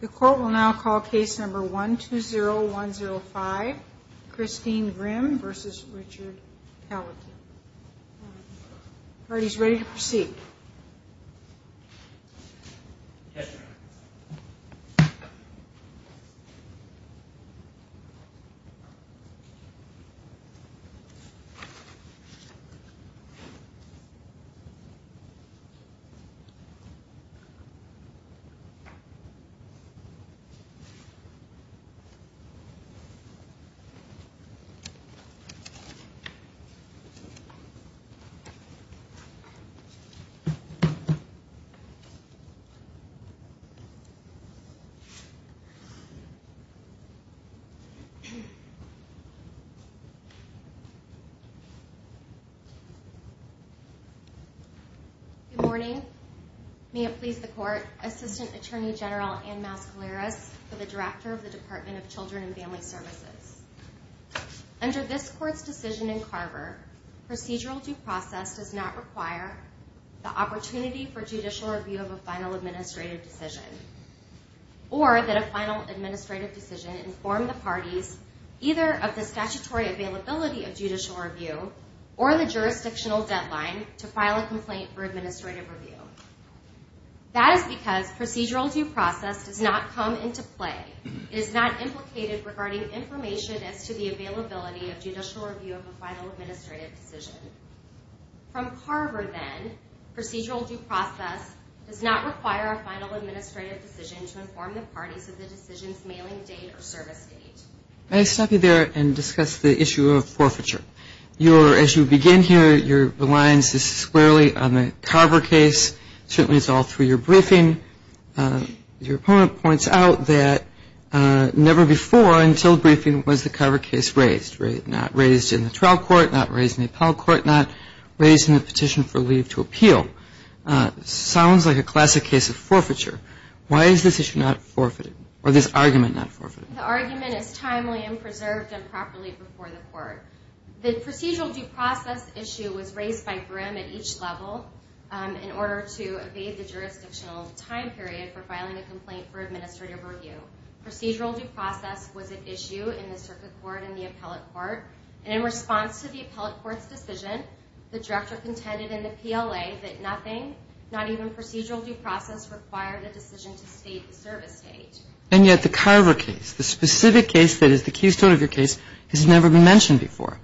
The court will now call case number 120105 Christine Grimm v. Richard Calica The court is ready to proceed. Good morning. May it please the court, Assistant Attorney General Ann Mascaleras for the Director of the Department of Children and Family Services. Under this court's decision in Carver, procedural due process does not require the opportunity for judicial review of a final administrative decision, or that a final administrative decision inform the parties either of the statutory availability of judicial review or the jurisdictional deadline to file a complaint for administrative review. That is because procedural due process does not come into play. It is not implicated regarding information as to the availability of judicial review of a final administrative decision. From Carver, then, procedural due process does not require a final administrative decision to inform the parties of the decision's mailing date or service date. May I stop you there and discuss the issue of forfeiture? As you begin here, your reliance is squarely on the Carver case. Certainly it's all through your briefing. Your opponent points out that never before until briefing was the Carver case raised. Not raised in the trial court, not raised in the appellate court, not raised in the petition for leave to appeal. Sounds like a classic case of forfeiture. Why is this issue not forfeited, or this argument not forfeited? The argument is timely and preserved and properly before the court. The procedural due process issue was raised by Grimm at each level in order to evade the jurisdictional time period for filing a complaint for administrative review. Procedural due process was an issue in the circuit court and the appellate court, and in response to the appellate court's decision, the director contended in the PLA that nothing, not even procedural due process, required a decision to state the service date. And yet the Carver case, the specific case that is the keystone of your case, has never been mentioned before.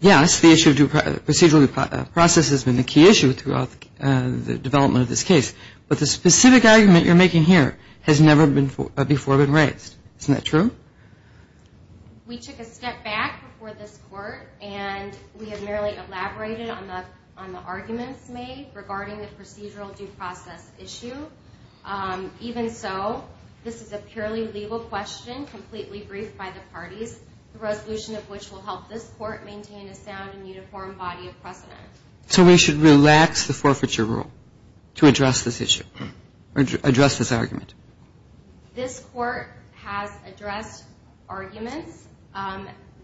Yes, the issue of procedural due process has been the key issue throughout the development of this case, but the specific argument you're making here has never before been raised. Isn't that true? We took a step back before this court, and we have merely elaborated on the arguments made regarding the procedural due process issue. Even so, this is a purely legal question, completely briefed by the parties, the resolution of which will help this court maintain a sound and uniform body of precedent. So we should relax the forfeiture rule to address this issue, or address this argument? This court has addressed arguments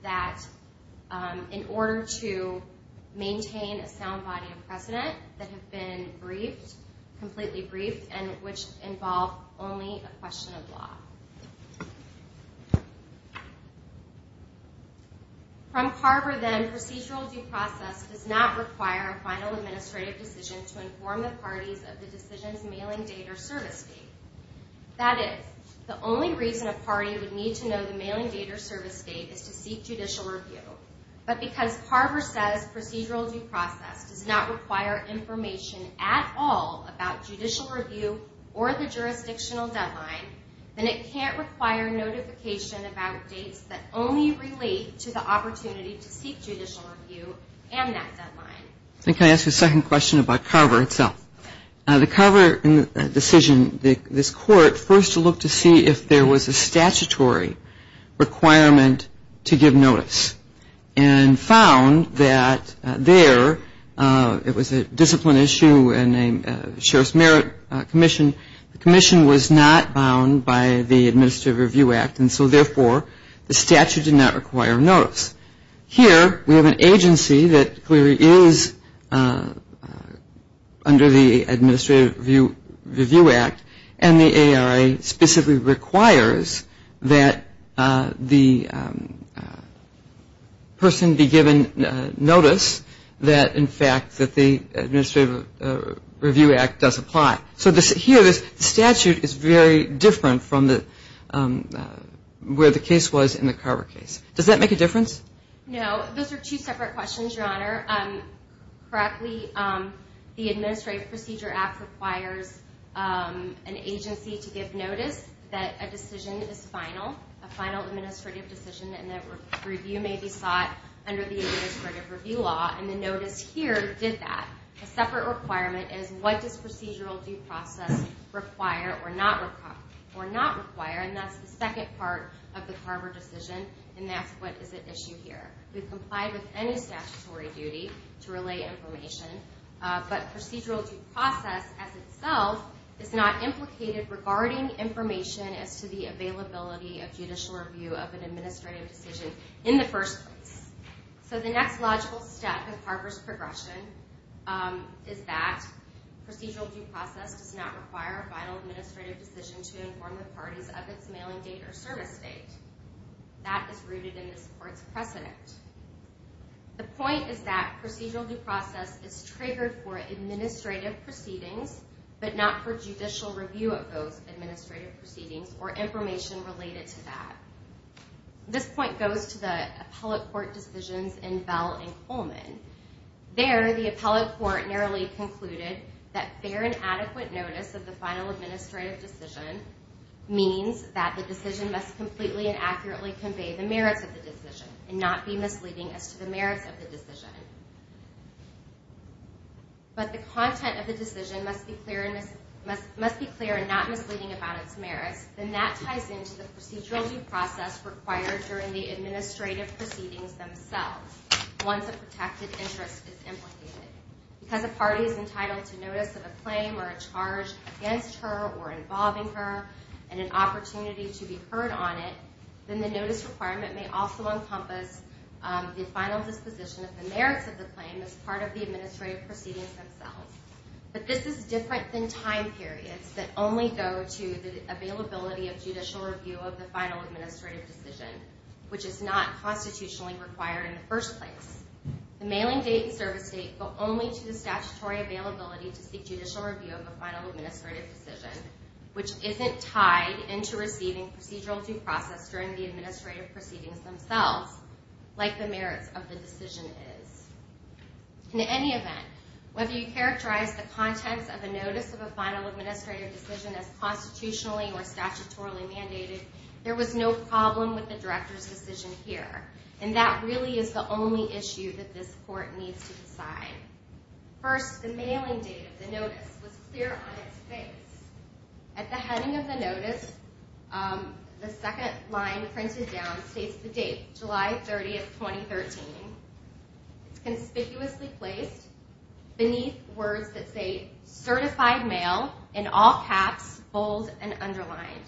that in order to maintain a sound body of precedent that have been briefed, completely briefed, and which involve only a question of law. From Carver, then, procedural due process does not require a final administrative decision to inform the parties of the decision's mailing date or service date. That is, the only reason a party would need to know the mailing date or service date is to seek judicial review. But because Carver says procedural due process does not require information at all about judicial review or the jurisdictional deadline, then it can't require notification about dates that only relate to the opportunity to seek judicial review and that deadline. Can I ask a second question about Carver itself? The Carver decision, this court first looked to see if there was a statutory requirement to give notice, and found that there it was a discipline issue in a Sheriff's Merit Commission. The commission was not bound by the Administrative Review Act, and so therefore the statute did not require notice. Here, we have an agency that clearly is under the Administrative Review Act, and the ARA specifically requires that the person be given notice that, in fact, that the Administrative Review Act does apply. So here, the statute is very different from where the case was in the Carver case. Does that make a difference? No. Those are two separate questions, Your Honor. Correctly, the Administrative Procedure Act requires an agency to give notice that a decision is final, a final administrative decision, and that review may be sought under the Administrative Review Law, and the notice here did that. A separate requirement is what does procedural due process require or not require, and that's the second part of the Carver decision, and that's what is at issue here. We've complied with any statutory duty to relay information, but procedural due process as itself is not implicated regarding information as to the availability of judicial review of an administrative decision in the first place. So the next logical step in Carver's progression is that procedural due process does not require a final administrative decision to inform the parties of its mailing date or service date. That is rooted in this Court's precedent. The point is that procedural due process is triggered for administrative proceedings, but not for judicial review of those administrative proceedings or information related to that. This point goes to the appellate court decisions in Bell and Coleman. There, the appellate court narrowly concluded that fair and adequate notice of the final administrative decision means that the decision must completely and accurately convey the merits of the decision and not be misleading as to the merits of the decision. But the content of the decision must be clear and not misleading about its merits, and that ties into the procedural due process required during the administrative proceedings themselves. Once a protected interest is implicated, because a party is entitled to notice of a claim or a charge against her or involving her and an opportunity to be heard on it, then the notice requirement may also encompass the final disposition of the merits of the claim as part of the administrative proceedings themselves. But this is different than time periods that only go to the availability of judicial review of the final administrative decision, which is not constitutionally required in the first place. The mailing date and service date go only to the statutory availability to seek judicial review of the final administrative decision, which isn't tied into receiving procedural due process during the administrative proceedings themselves, like the merits of the decision is. In any event, whether you characterize the context of a notice of a final administrative decision as constitutionally or statutorily mandated, there was no problem with the Director's decision here, and that really is the only issue that this Court needs to decide. First, the mailing date of the notice was clear on its face. At the heading of the notice, the second line printed down states the date, July 30, 2013. It's conspicuously placed beneath words that say CERTIFIED MAIL in all caps, bold and underlined.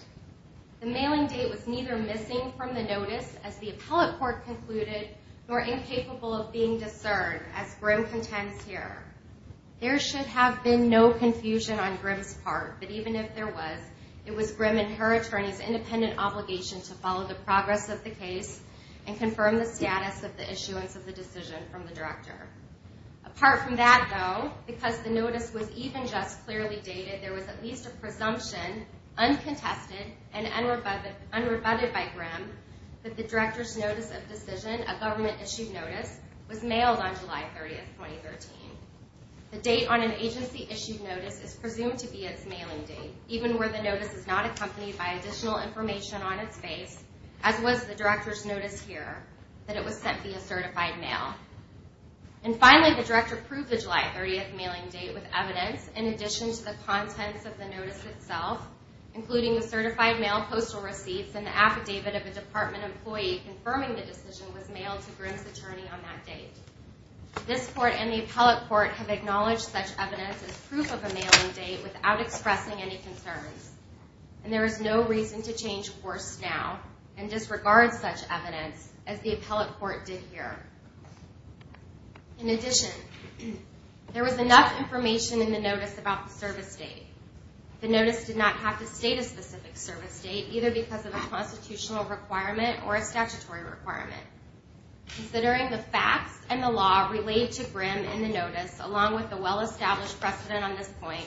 The mailing date was neither missing from the notice, as the Appellate Court concluded, nor incapable of being discerned, as Grimm contends here. There should have been no confusion on Grimm's part, but even if there was, it was Grimm and her attorneys' independent obligation to follow the progress of the case and confirm the status of the issuance of the decision from the Director. Apart from that, though, because the notice was even just clearly dated, there was at least a presumption, uncontested and unrebutted by Grimm, that the Director's notice of decision, a government-issued notice, was mailed on July 30, 2013. The date on an agency-issued notice is presumed to be its mailing date, even where the notice is not accompanied by additional information on its face, as was the Director's notice here, that it was sent via CERTIFIED MAIL. And finally, the Director proved the July 30 mailing date with evidence, in addition to the contents of the notice itself, including the CERTIFIED MAIL postal receipts and the affidavit of a Department employee confirming the decision was mailed to Grimm's attorney on that date. This Court and the Appellate Court have acknowledged such evidence as proof of a mailing date without expressing any concerns, and there is no reason to change course now and disregard such evidence as the Appellate Court did here. In addition, there was enough information in the notice about the service date. The notice did not have to state a specific service date, either because of a constitutional requirement or a statutory requirement. Considering the facts and the law related to Grimm in the notice, along with the well-established precedent on this point,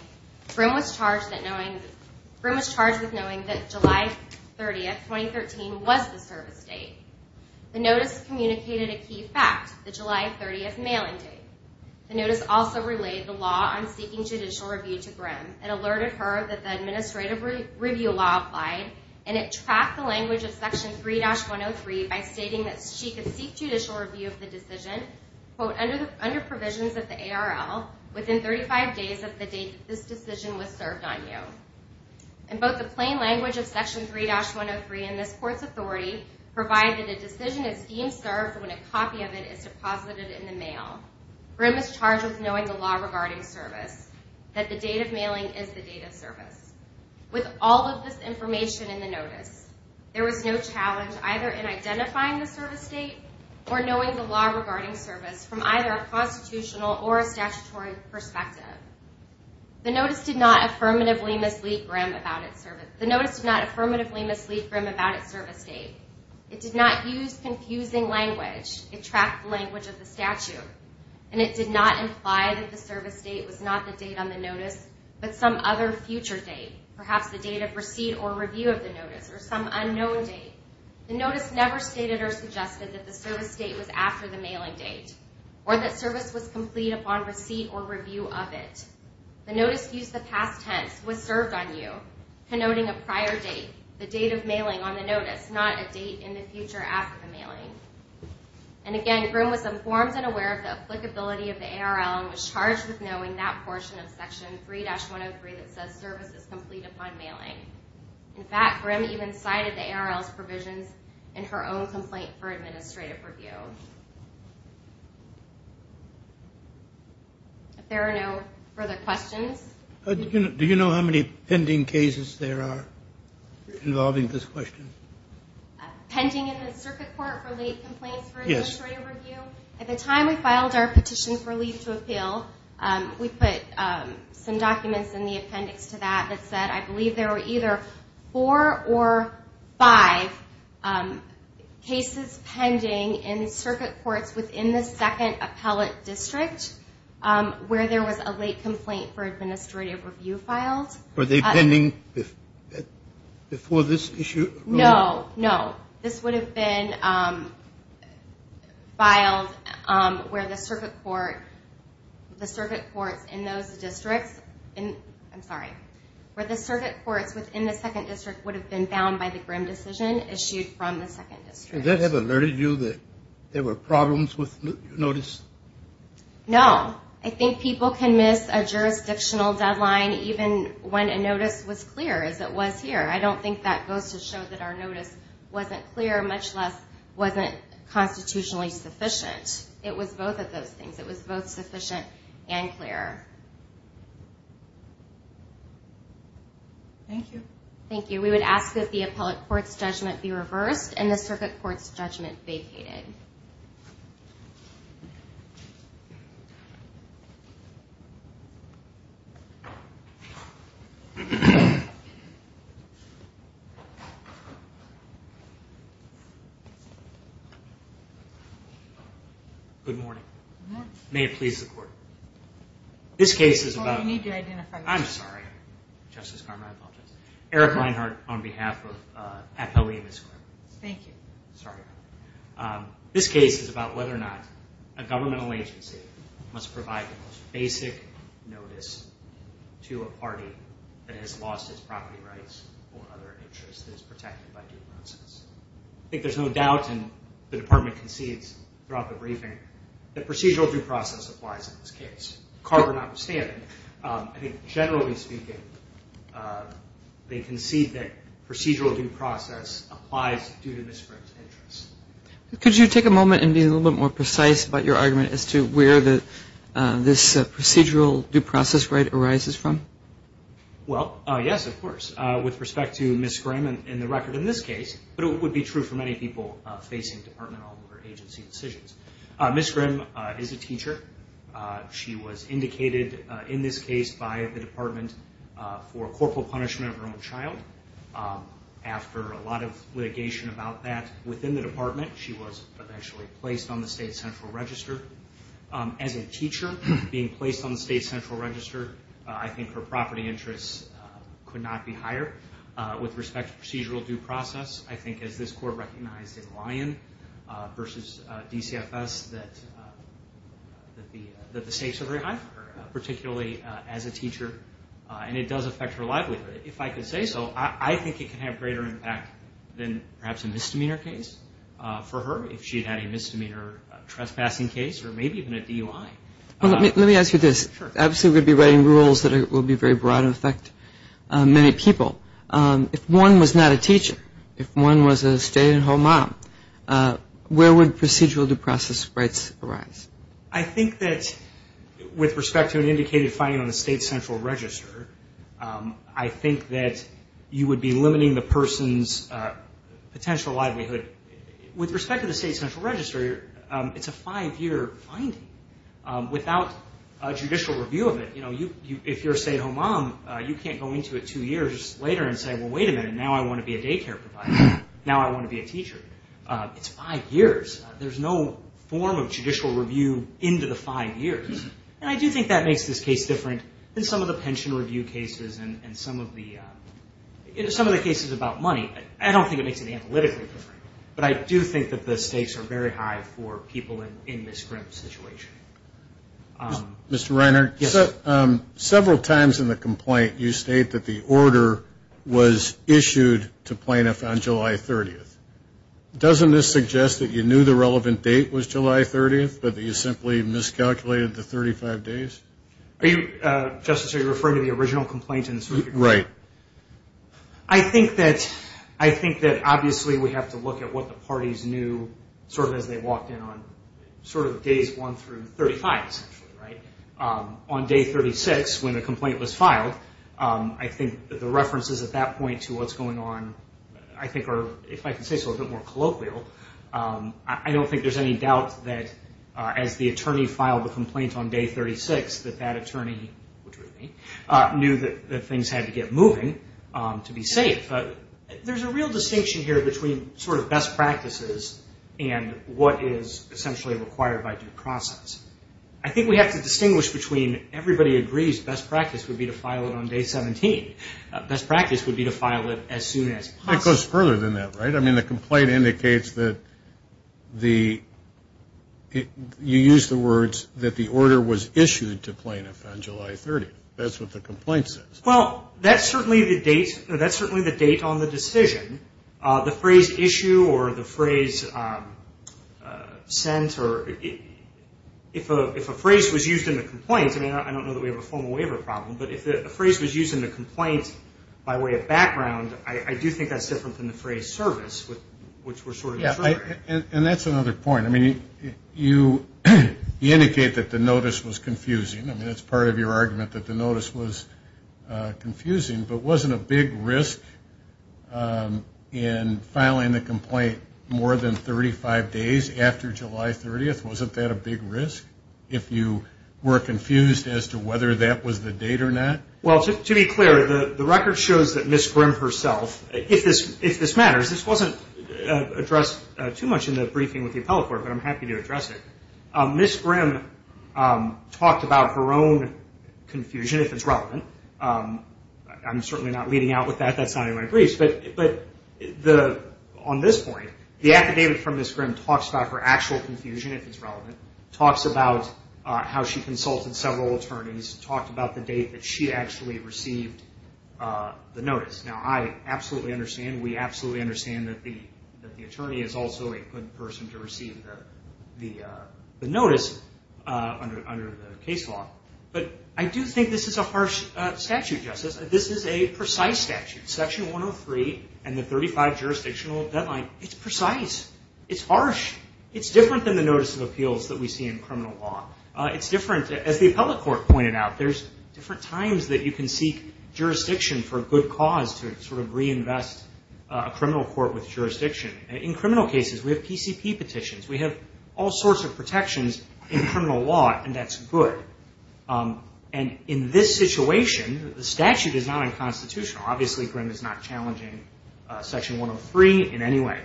Grimm was charged with knowing that July 30, 2013, was the service date. The notice communicated a key fact, the July 30 mailing date. The notice also relayed the law on seeking judicial review to Grimm. It alerted her that the administrative review law applied, and it tracked the language of Section 3-103 by stating that she could seek judicial review of the decision, quote, under provisions of the ARL, within 35 days of the date that this decision was served on you. And both the plain language of Section 3-103 and this Court's authority provide that a decision is deemed served when a copy of it is deposited in the mail. Grimm was charged with knowing the law regarding service, that the date of mailing is the date of service. With all of this information in the notice, there was no challenge either in identifying the service date or knowing the law regarding service from either a constitutional or a statutory perspective. The notice did not affirmatively mislead Grimm about its service date. It did not use confusing language. It tracked the language of the statute, and it did not imply that the service date was not the date on the notice, but some other future date, perhaps the date of receipt or review of the notice, or some unknown date. The notice never stated or suggested that the service date was after the mailing date or that service was complete upon receipt or review of it. The notice used the past tense, was served on you, connoting a prior date, the date of mailing on the notice, not a date in the future after the mailing. And again, Grimm was informed and aware of the applicability of the ARL and was charged with knowing that portion of Section 3-103 that says service is complete upon mailing. In fact, Grimm even cited the ARL's provisions in her own complaint for administrative review. If there are no further questions. Do you know how many pending cases there are involving this question? Pending in the Circuit Court for late complaints for administrative review? Yes. We put some documents in the appendix to that that said I believe there were either four or five cases pending in Circuit Courts within the second appellate district where there was a late complaint for administrative review filed. Were they pending before this issue? No, no. This would have been filed where the Circuit Courts within the second district would have been bound by the Grimm decision issued from the second district. Does that have alerted you that there were problems with the notice? No. I think people can miss a jurisdictional deadline even when a notice was clear as it was here. I don't think that goes to show that our notice wasn't clear, much less wasn't constitutionally sufficient. It was both of those things. It was both sufficient and clear. Thank you. Thank you. We would ask that the appellate court's judgment be reversed and the Circuit Court's judgment vacated. Good morning. May it please the Court. This case is about... Well, you need to identify yourself. I'm sorry, Justice Carmichael. I apologize. Eric Reinhart on behalf of Appellee and his court. Thank you. Sorry about that. This case is about whether or not a governmental agency must provide the most basic notice to a party that has lost its property rights or other interests that is protected by due process. I think there's no doubt, and the Department concedes throughout the briefing, that procedural due process applies in this case. Carver notwithstanding, I think generally speaking, they concede that procedural due process applies due to Ms. Grimm's interests. Could you take a moment and be a little bit more precise about your argument as to where this procedural due process right arises from? Well, yes, of course. With respect to Ms. Grimm and the record in this case, but it would be true for many people facing departmental or agency decisions. Ms. Grimm is a teacher. She was indicated in this case by the Department for corporal punishment of her own child. After a lot of litigation about that within the Department, she was eventually placed on the state central register. As a teacher being placed on the state central register, I think her property interests could not be higher. With respect to procedural due process, I think as this court recognized in Lyon versus DCFS that the stakes are very high for her, particularly as a teacher, and it does affect her livelihood. If I could say so, I think it could have greater impact than perhaps a misdemeanor case for her if she had had a misdemeanor trespassing case or maybe even a DUI. Let me ask you this. Sure. Obviously, we'd be writing rules that would be very broad and affect many people. If one was not a teacher, if one was a stay-at-home mom, where would procedural due process rights arise? I think that with respect to an indicated finding on the state central register, I think that you would be limiting the person's potential livelihood. With respect to the state central register, it's a five-year finding. Without a judicial review of it, if you're a stay-at-home mom, you can't go into it two years later and say, well, wait a minute, now I want to be a daycare provider. Now I want to be a teacher. It's five years. There's no form of judicial review into the five years, and I do think that makes this case different than some of the pension review cases and some of the cases about money. I don't think it makes it analytically different, but I do think that the stakes are very high for people in Ms. Grimm's situation. Mr. Reiner, several times in the complaint you state that the order was issued to plaintiffs on July 30th. Doesn't this suggest that you knew the relevant date was July 30th, but that you simply miscalculated the 35 days? Justice, are you referring to the original complaint? Right. I think that obviously we have to look at what the parties knew sort of as they walked in on sort of days one through 35, essentially. On day 36, when the complaint was filed, I think the references at that point to what's going on, I think are, if I can say so, a bit more colloquial. I don't think there's any doubt that as the attorney filed the complaint on day 36, that that attorney, which was me, knew that things had to get moving to be safe. There's a real distinction here between sort of best practices and what is essentially required by due process. I think we have to distinguish between everybody agrees best practice would be to file it on day 17. Best practice would be to file it as soon as possible. It goes further than that, right? I mean, the complaint indicates that you used the words that the order was issued to plaintiff on July 30th. That's what the complaint says. Well, that's certainly the date on the decision. The phrase issue or the phrase sent or if a phrase was used in the complaint, I mean, I don't know that we have a formal waiver problem, but if a phrase was used in the complaint by way of background, I do think that's different than the phrase service, which we're sort of referring to. And that's another point. I mean, you indicate that the notice was confusing. I mean, it's part of your argument that the notice was confusing, but wasn't a big risk in filing the complaint more than 35 days after July 30th? Wasn't that a big risk if you were confused as to whether that was the date or not? Well, to be clear, the record shows that Ms. Grimm herself, if this matters, this wasn't addressed too much in the briefing with the appellate court, but I'm happy to address it. Ms. Grimm talked about her own confusion, if it's relevant. I'm certainly not leading out with that. That's not in my briefs. But on this point, the affidavit from Ms. Grimm talks about her actual confusion, if it's relevant, talks about how she consulted several attorneys, talked about the date that she actually received the notice. Now, I absolutely understand. We absolutely understand that the attorney is also a good person to receive the notice under the case law. But I do think this is a harsh statute, Justice. This is a precise statute. Section 103 and the 35 jurisdictional deadline, it's precise. It's harsh. It's different than the notice of appeals that we see in criminal law. It's different. As the appellate court pointed out, there's different times that you can seek jurisdiction for a good cause to sort of reinvest a criminal court with jurisdiction. In criminal cases, we have PCP petitions. We have all sorts of protections in criminal law, and that's good. And in this situation, the statute is not unconstitutional. Obviously, Grimm is not challenging Section 103 in any way.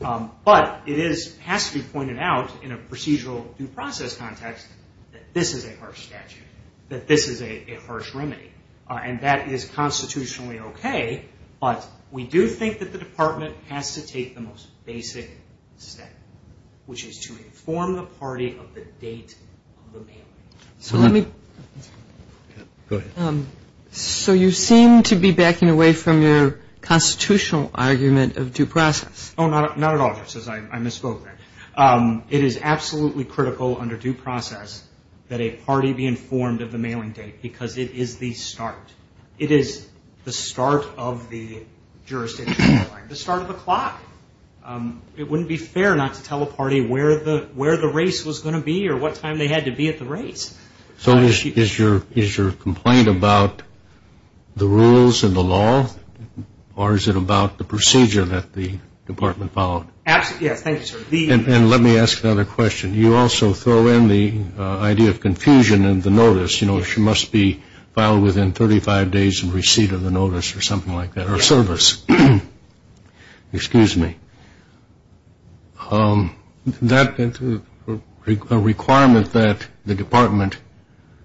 But it has to be pointed out in a procedural due process context that this is a harsh statute, that this is a harsh remedy, and that is constitutionally okay. But we do think that the department has to take the most basic step, which is to inform the party of the date of the mail-in. Go ahead. So you seem to be backing away from your constitutional argument of due process. Oh, not at all, Justice. I misspoke there. It is absolutely critical under due process that a party be informed of the mail-in date because it is the start. It is the start of the jurisdictional deadline, the start of the clock. It wouldn't be fair not to tell a party where the race was going to be or what time they had to be at the race. So is your complaint about the rules and the law, or is it about the procedure that the department followed? Yes, thank you, sir. And let me ask another question. You know, she must be filed within 35 days of receipt of the notice or something like that, or service. Excuse me. That requirement that the department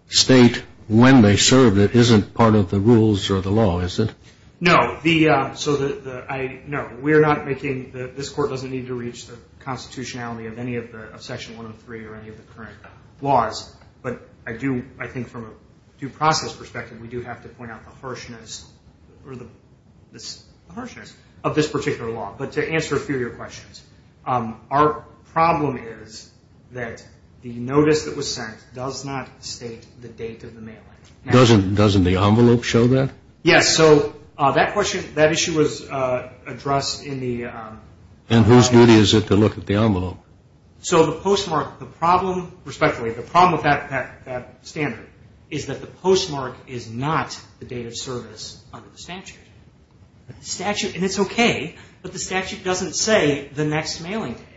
state when they served it isn't part of the rules or the law, is it? No. No, we're not making – this Court doesn't need to reach the constitutionality of any of Section 103 or any of the current laws. But I do – I think from a due process perspective, we do have to point out the harshness of this particular law. But to answer a few of your questions, our problem is that the notice that was sent does not state the date of the mail-in. Doesn't the envelope show that? Yes. So that question – that issue was addressed in the – And whose duty is it to look at the envelope? So the postmark, the problem – respectfully, the problem with that standard is that the postmark is not the date of service under the statute. The statute – and it's okay, but the statute doesn't say the next mailing date.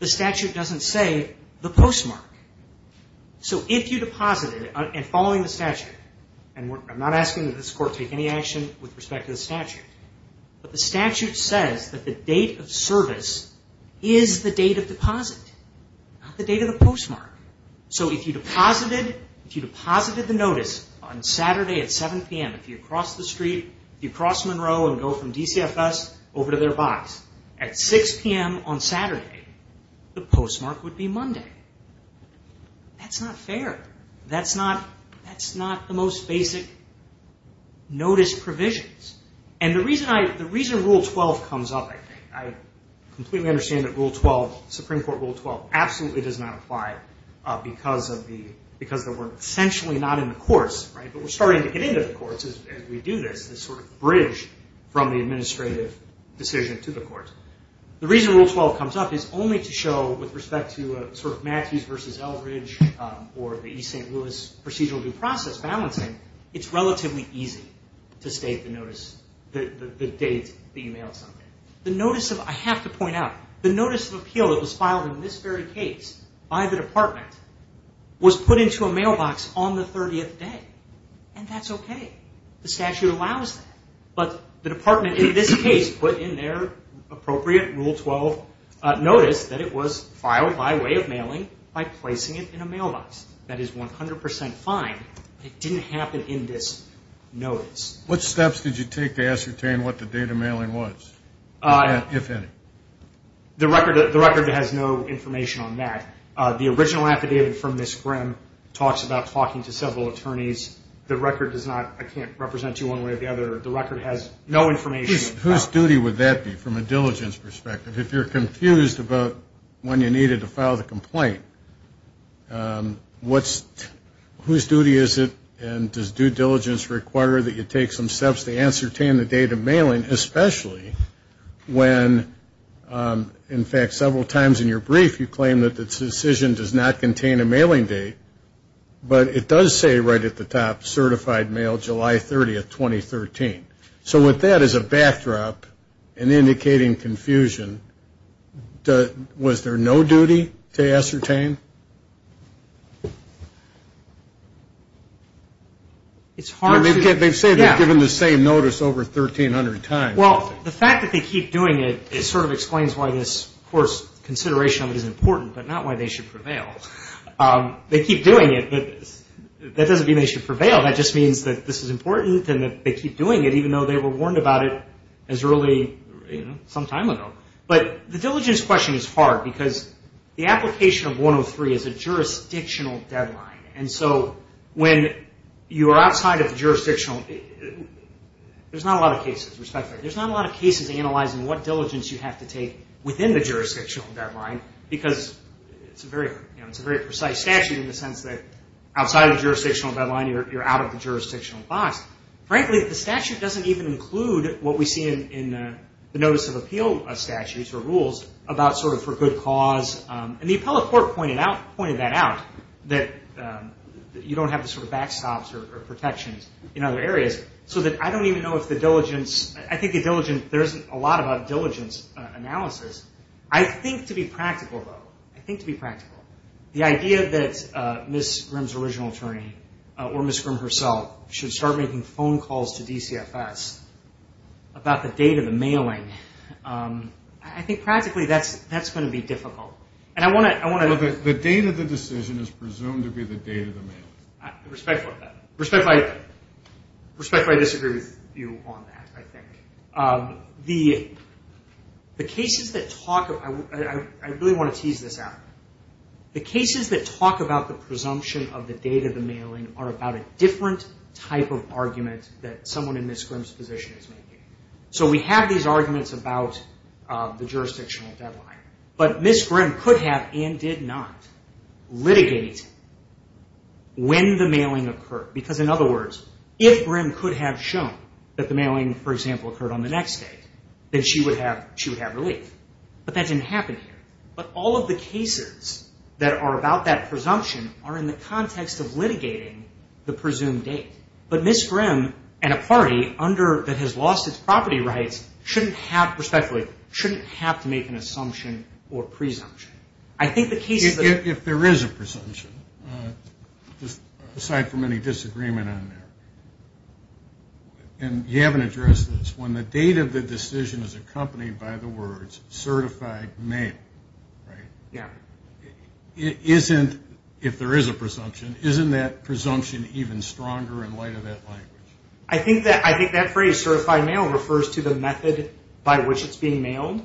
The statute doesn't say the postmark. So if you deposited – and following the statute, and I'm not asking that this Court take any action with respect to the statute, but the statute says that the date of service is the date of deposit, not the date of the postmark. So if you deposited – if you deposited the notice on Saturday at 7 p.m., if you cross the street, if you cross Monroe and go from DCFS over to their box at 6 p.m. on Saturday, the postmark would be Monday. That's not fair. That's not – that's not the most basic notice provisions. And the reason I – the reason Rule 12 comes up, I think – I completely understand that Rule 12, Supreme Court Rule 12, absolutely does not apply because of the – because we're essentially not in the courts, right, but we're starting to get into the courts as we do this, this sort of bridge from the administrative decision to the courts. The reason Rule 12 comes up is only to show, with respect to sort of Matthews v. Eldridge or the E. St. Louis procedural due process balancing, it's relatively easy to state the notice – the date that you mailed something. The notice of – I have to point out, the notice of appeal that was filed in this very case by the department was put into a mailbox on the 30th day, and that's okay. The statute allows that, but the department in this case put in their appropriate Rule 12 notice that it was filed by way of mailing by placing it in a mailbox. That is 100 percent fine, but it didn't happen in this notice. What steps did you take to ascertain what the date of mailing was, if any? The record has no information on that. The original affidavit from Ms. Grimm talks about talking to several attorneys. The record does not – I can't represent you one way or the other. The record has no information. Whose duty would that be from a diligence perspective? If you're confused about when you needed to file the complaint, what's – whose duty is it, and does due diligence require that you take some steps to ascertain the date of mailing, especially when, in fact, several times in your brief you claim that the decision does not contain a mailing date, but it does say right at the top, certified mail July 30th, 2013. So with that as a backdrop and indicating confusion, was there no duty to ascertain? It's hard to – They've said they've given the same notice over 1,300 times. Well, the fact that they keep doing it, it sort of explains why this, of course, consideration of it is important, but not why they should prevail. They keep doing it, but that doesn't mean they should prevail. That just means that this is important and that they keep doing it, even though they were warned about it as early, you know, some time ago. But the diligence question is hard because the application of 103 is a jurisdictional deadline, and so when you are outside of the jurisdictional – there's not a lot of cases, respectfully. There's not a lot of cases analyzing what diligence you have to take within the jurisdictional deadline because it's a very – you know, it's a very precise statute in the sense that you're out of the jurisdictional box. Frankly, the statute doesn't even include what we see in the notice of appeal statutes or rules about sort of for good cause. And the appellate court pointed that out, that you don't have the sort of backstops or protections in other areas, so that I don't even know if the diligence – I think the diligence – there isn't a lot about diligence analysis. The idea that Ms. Grimm's original attorney, or Ms. Grimm herself, should start making phone calls to DCFS about the date of the mailing, I think practically that's going to be difficult. And I want to – Well, the date of the decision is presumed to be the date of the mailing. Respectfully, I disagree with you on that, I think. The cases that talk – I really want to tease this out. The cases that talk about the presumption of the date of the mailing are about a different type of argument that someone in Ms. Grimm's position is making. So we have these arguments about the jurisdictional deadline, but Ms. Grimm could have and did not litigate when the mailing occurred. Because, in other words, if Grimm could have shown that the mailing, for example, occurred on the next day, then she would have relief. But that didn't happen here. But all of the cases that are about that presumption are in the context of litigating the presumed date. But Ms. Grimm and a party that has lost its property rights shouldn't have – respectfully, shouldn't have to make an assumption or presumption. If there is a presumption, aside from any disagreement on there, and you haven't addressed this, when the date of the decision is accompanied by the words certified mail, if there is a presumption, isn't that presumption even stronger in light of that language? I think that phrase, certified mail, refers to the method by which it's being mailed.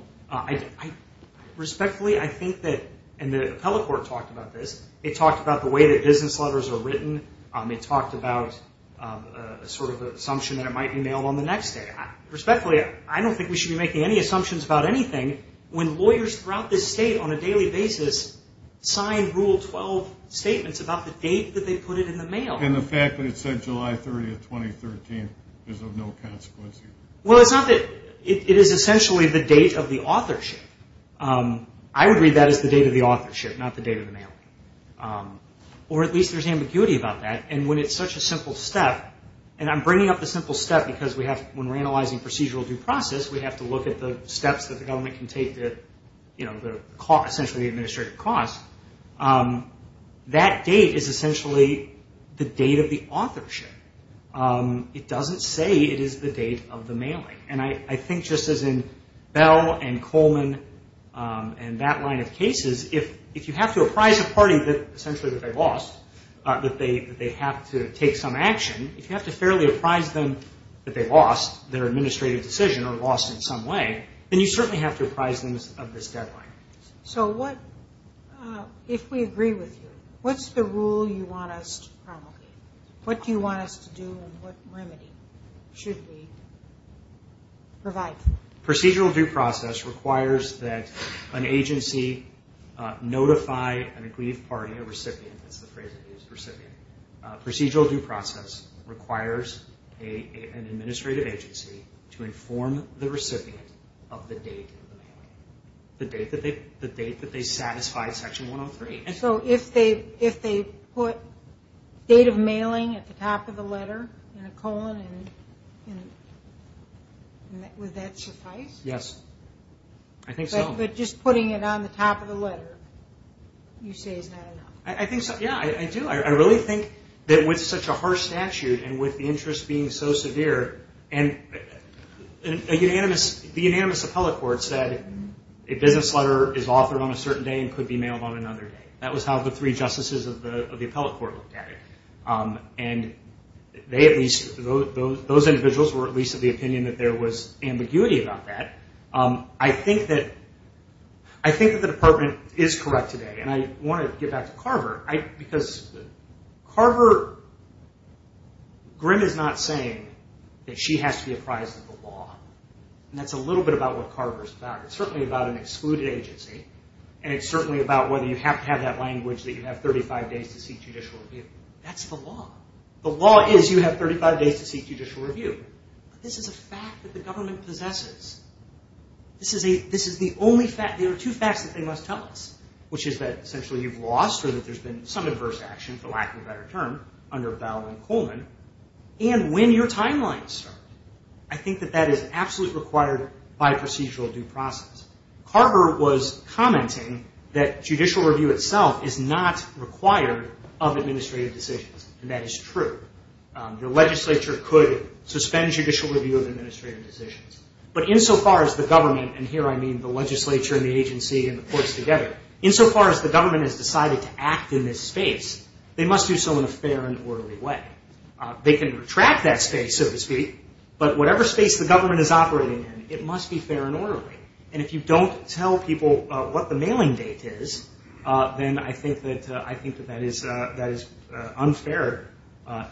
Respectfully, I think that – and the appellate court talked about this. It talked about the way that business letters are written. It talked about sort of the assumption that it might be mailed on the next day. Respectfully, I don't think we should be making any assumptions about anything when lawyers throughout this state on a daily basis sign Rule 12 statements about the date that they put it in the mail. And the fact that it said July 30, 2013 is of no consequence. Well, it's not that – it is essentially the date of the authorship. I would read that as the date of the authorship, not the date of the mailing. Or at least there's ambiguity about that. And when it's such a simple step – and I'm bringing up the simple step because we have – when we're analyzing procedural due process, we have to look at the steps that the government can take to, you know, essentially the administrative cost. That date is essentially the date of the authorship. It doesn't say it is the date of the mailing. And I think just as in Bell and Coleman and that line of cases, if you have to apprise a party that essentially that they lost, that they have to take some action, if you have to fairly apprise them that they lost their administrative decision or lost in some way, then you certainly have to apprise them of this deadline. So what – if we agree with you, what's the rule you want us to promulgate? What do you want us to do and what remedy should we provide? Procedural due process requires that an agency notify an aggrieved party, a recipient – that's the phrase I use, recipient. Procedural due process requires an administrative agency to inform the recipient of the date of the mailing, the date that they satisfied Section 103. So if they put date of mailing at the top of the letter in a colon, would that suffice? Yes. I think so. But just putting it on the top of the letter, you say is not enough. I think so. Yeah, I do. I really think that with such a harsh statute and with the interest being so severe, the unanimous appellate court said a business letter is authored on a certain day and could be mailed on another day. That was how the three justices of the appellate court looked at it. And they at least – those individuals were at least of the opinion that there was ambiguity about that. I think that the department is correct today. And I want to get back to Carver because Carver – Grimm is not saying that she has to be apprised of the law. And that's a little bit about what Carver is about. It's certainly about an excluded agency, and it's certainly about whether you have to have that language that you have 35 days to seek judicial review. That's the law. The law is you have 35 days to seek judicial review. This is a fact that the government possesses. This is the only fact. There are two facts that they must tell us, which is that essentially you've lost or that there's been some adverse action, for lack of a better term, under Bell and Coleman, and when your timelines start. I think that that is absolutely required by procedural due process. Carver was commenting that judicial review itself is not required of administrative decisions, and that is true. Your legislature could suspend judicial review of administrative decisions. But insofar as the government – and here I mean the legislature and the agency and the courts together – insofar as the government has decided to act in this space, they must do so in a fair and orderly way. They can retract that space, so to speak, but whatever space the government is operating in, it must be fair and orderly. And if you don't tell people what the mailing date is, then I think that that is unfair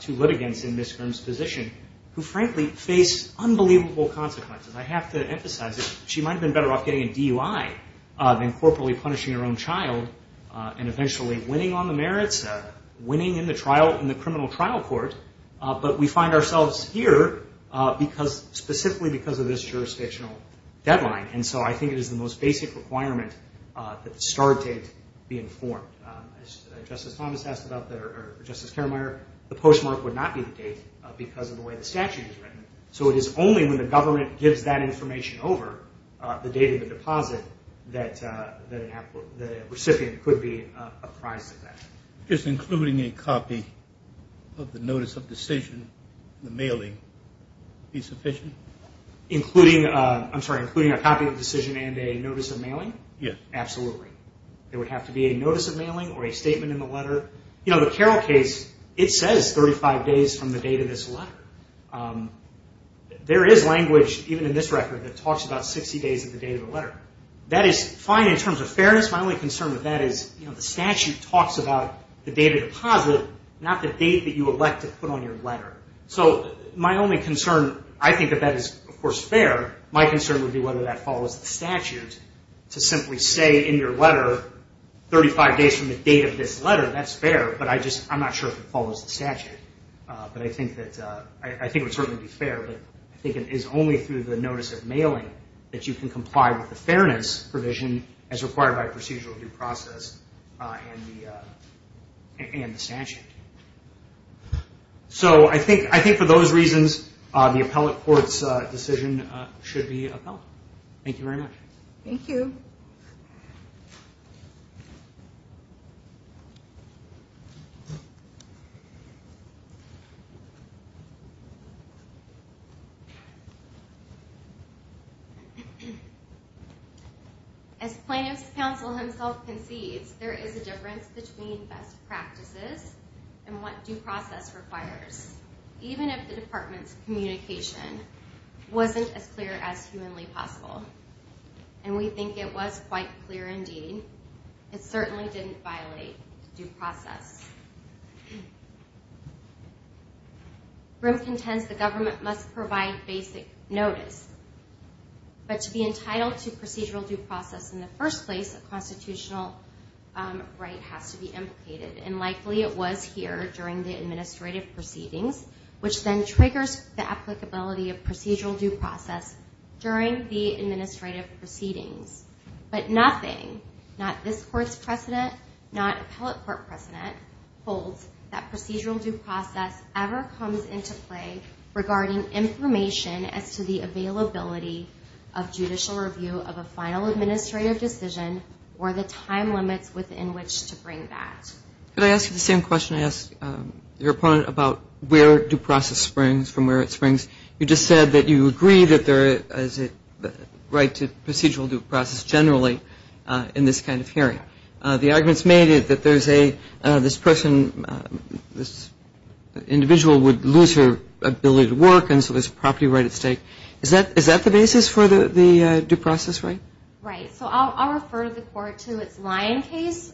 to litigants in Ms. Grimm's position who frankly face unbelievable consequences. I have to emphasize that she might have been better off getting a DUI than corporately punishing her own child and eventually winning on the merits of it, winning in the criminal trial court. But we find ourselves here specifically because of this jurisdictional deadline. And so I think it is the most basic requirement that the start date be informed. As Justice Thomas asked about that, or Justice Karameier, the postmark would not be the date because of the way the statute is written. So it is only when the government gives that information over, the date of the deposit, that the recipient could be apprised of that. Just including a copy of the notice of decision, the mailing, be sufficient? Including a copy of the decision and a notice of mailing? Yes. Absolutely. There would have to be a notice of mailing or a statement in the letter. The Carroll case, it says 35 days from the date of this letter. There is language, even in this record, that talks about 60 days of the date of the letter. That is fine in terms of fairness. My only concern with that is the statute talks about the date of deposit, not the date that you elect to put on your letter. So my only concern, I think that that is, of course, fair. My concern would be whether that follows the statute to simply say in your letter, 35 days from the date of this letter, that is fair. But I am not sure if it follows the statute. But I think it would certainly be fair. I think it is only through the notice of mailing that you can comply with the fairness provision as required by procedural due process and the statute. So I think for those reasons, the appellate court's decision should be appealed. Thank you very much. Thank you. Thank you. As plaintiff's counsel himself concedes, there is a difference between best practices and what due process requires, even if the department's communication wasn't as clear as humanly possible. And we think it was quite clear indeed. It certainly didn't violate due process. Brim contends the government must provide basic notice. But to be entitled to procedural due process in the first place, a constitutional right has to be implicated. And likely it was here during the administrative proceedings, which then triggers the applicability of procedural due process during the administrative proceedings. But nothing, not this Court's precedent, not appellate court precedent holds that procedural due process ever comes into play regarding information as to the availability of judicial review of a final administrative decision or the time limits within which to bring that. Could I ask you the same question I asked your opponent about where due process springs from, where it springs? You just said that you agree that there is a right to procedural due process generally in this kind of hearing. The arguments made is that this person, this individual would lose her ability to work, and so there's a property right at stake. Is that the basis for the due process right? Right. So I'll refer the Court to its Lyon case,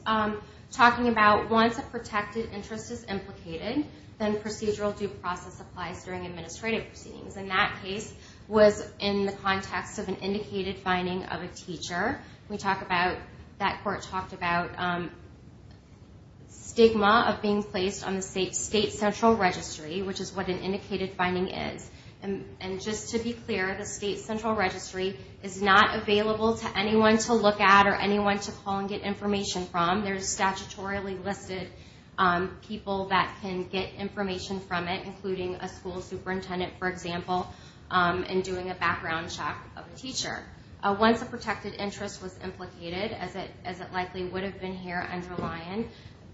talking about once a protected interest is implicated, then procedural due process applies during administrative proceedings. And that case was in the context of an indicated finding of a teacher. We talk about, that Court talked about stigma of being placed on the state's central registry, which is what an indicated finding is. And just to be clear, the state's central registry is not available to anyone to look at or anyone to call and get information from. There's statutorily listed people that can get information from it, including a school superintendent, for example, and doing a background check of a teacher. Once a protected interest was implicated, as it likely would have been here under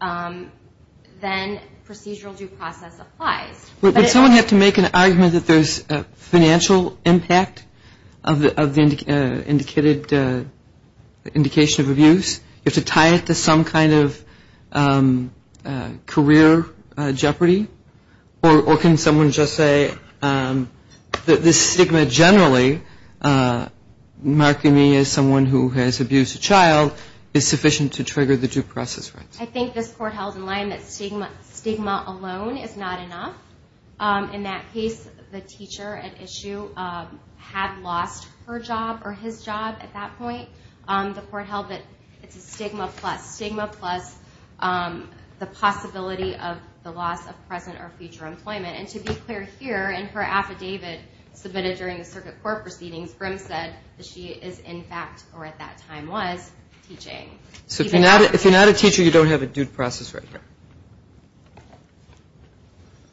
Lyon, then procedural due process applies. Would someone have to make an argument that there's a financial impact of the indicated indication of abuse? You have to tie it to some kind of career jeopardy? Or can someone just say that the stigma generally, marking me as someone who has abused a child, is sufficient to trigger the due process right? I think this Court held in Lyon that stigma alone is not enough. In that case, the teacher at issue had lost her job or his job at that point. The Court held that it's a stigma plus stigma plus the possibility of the loss of present or future employment. And to be clear here, in her affidavit submitted during the circuit court proceedings, Grimm said that she is in fact, or at that time was, teaching. So if you're not a teacher, you don't have a due process right here?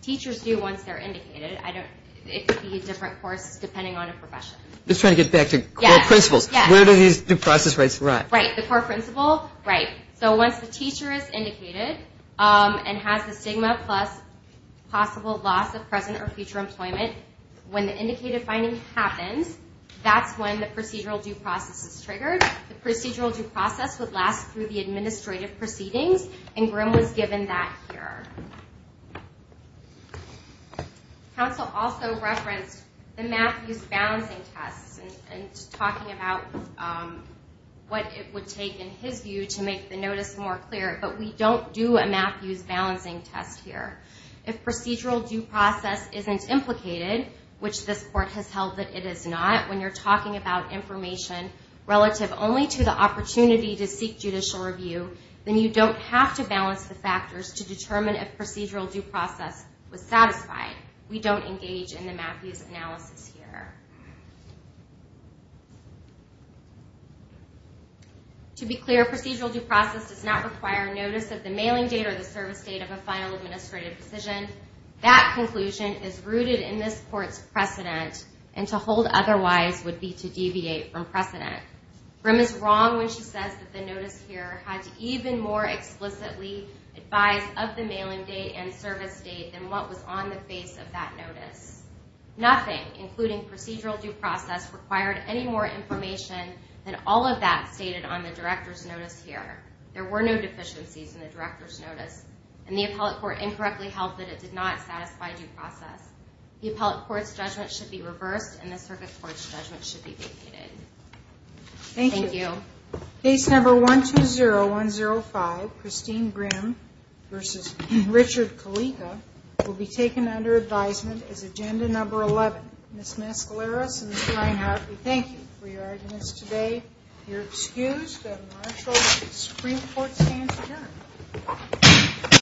Teachers do once they're indicated. It could be a different course depending on a profession. Just trying to get back to core principles. Where do these due process rights arrive? Right. The core principle, right. So once the teacher is indicated and has the stigma plus possible loss of present or future employment, when the indicated finding happens, that's when the procedural due process is triggered. The procedural due process would last through the administrative proceedings, and Grimm was given that here. Counsel also referenced the Matthews balancing tests and talking about what it would take, in his view, to make the notice more clear. But we don't do a Matthews balancing test here. If procedural due process isn't implicated, which this Court has held that it is or not, when you're talking about information relative only to the opportunity to seek judicial review, then you don't have to balance the factors to determine if procedural due process was satisfied. We don't engage in the Matthews analysis here. To be clear, procedural due process does not require notice of the mailing date or the service date of a final administrative decision. That conclusion is rooted in this Court's precedent, and to hold otherwise would be to deviate from precedent. Grimm is wrong when she says that the notice here had to even more explicitly advise of the mailing date and service date than what was on the face of that notice. Nothing, including procedural due process, required any more information than all of that stated on the Director's Notice here. There were no deficiencies in the Director's Notice, and the appellate court incorrectly held that it did not satisfy due process. The appellate court's judgment should be reversed, and the circuit court's judgment should be vacated. Thank you. Thank you. Case Number 120105, Christine Grimm v. Richard Kalika, will be taken under advisement as Agenda Number 11. Ms. Mescaleros and Mr. Reinhart, we thank you for your arguments today. If you're excused, the Marshall Supreme Court stands adjourned.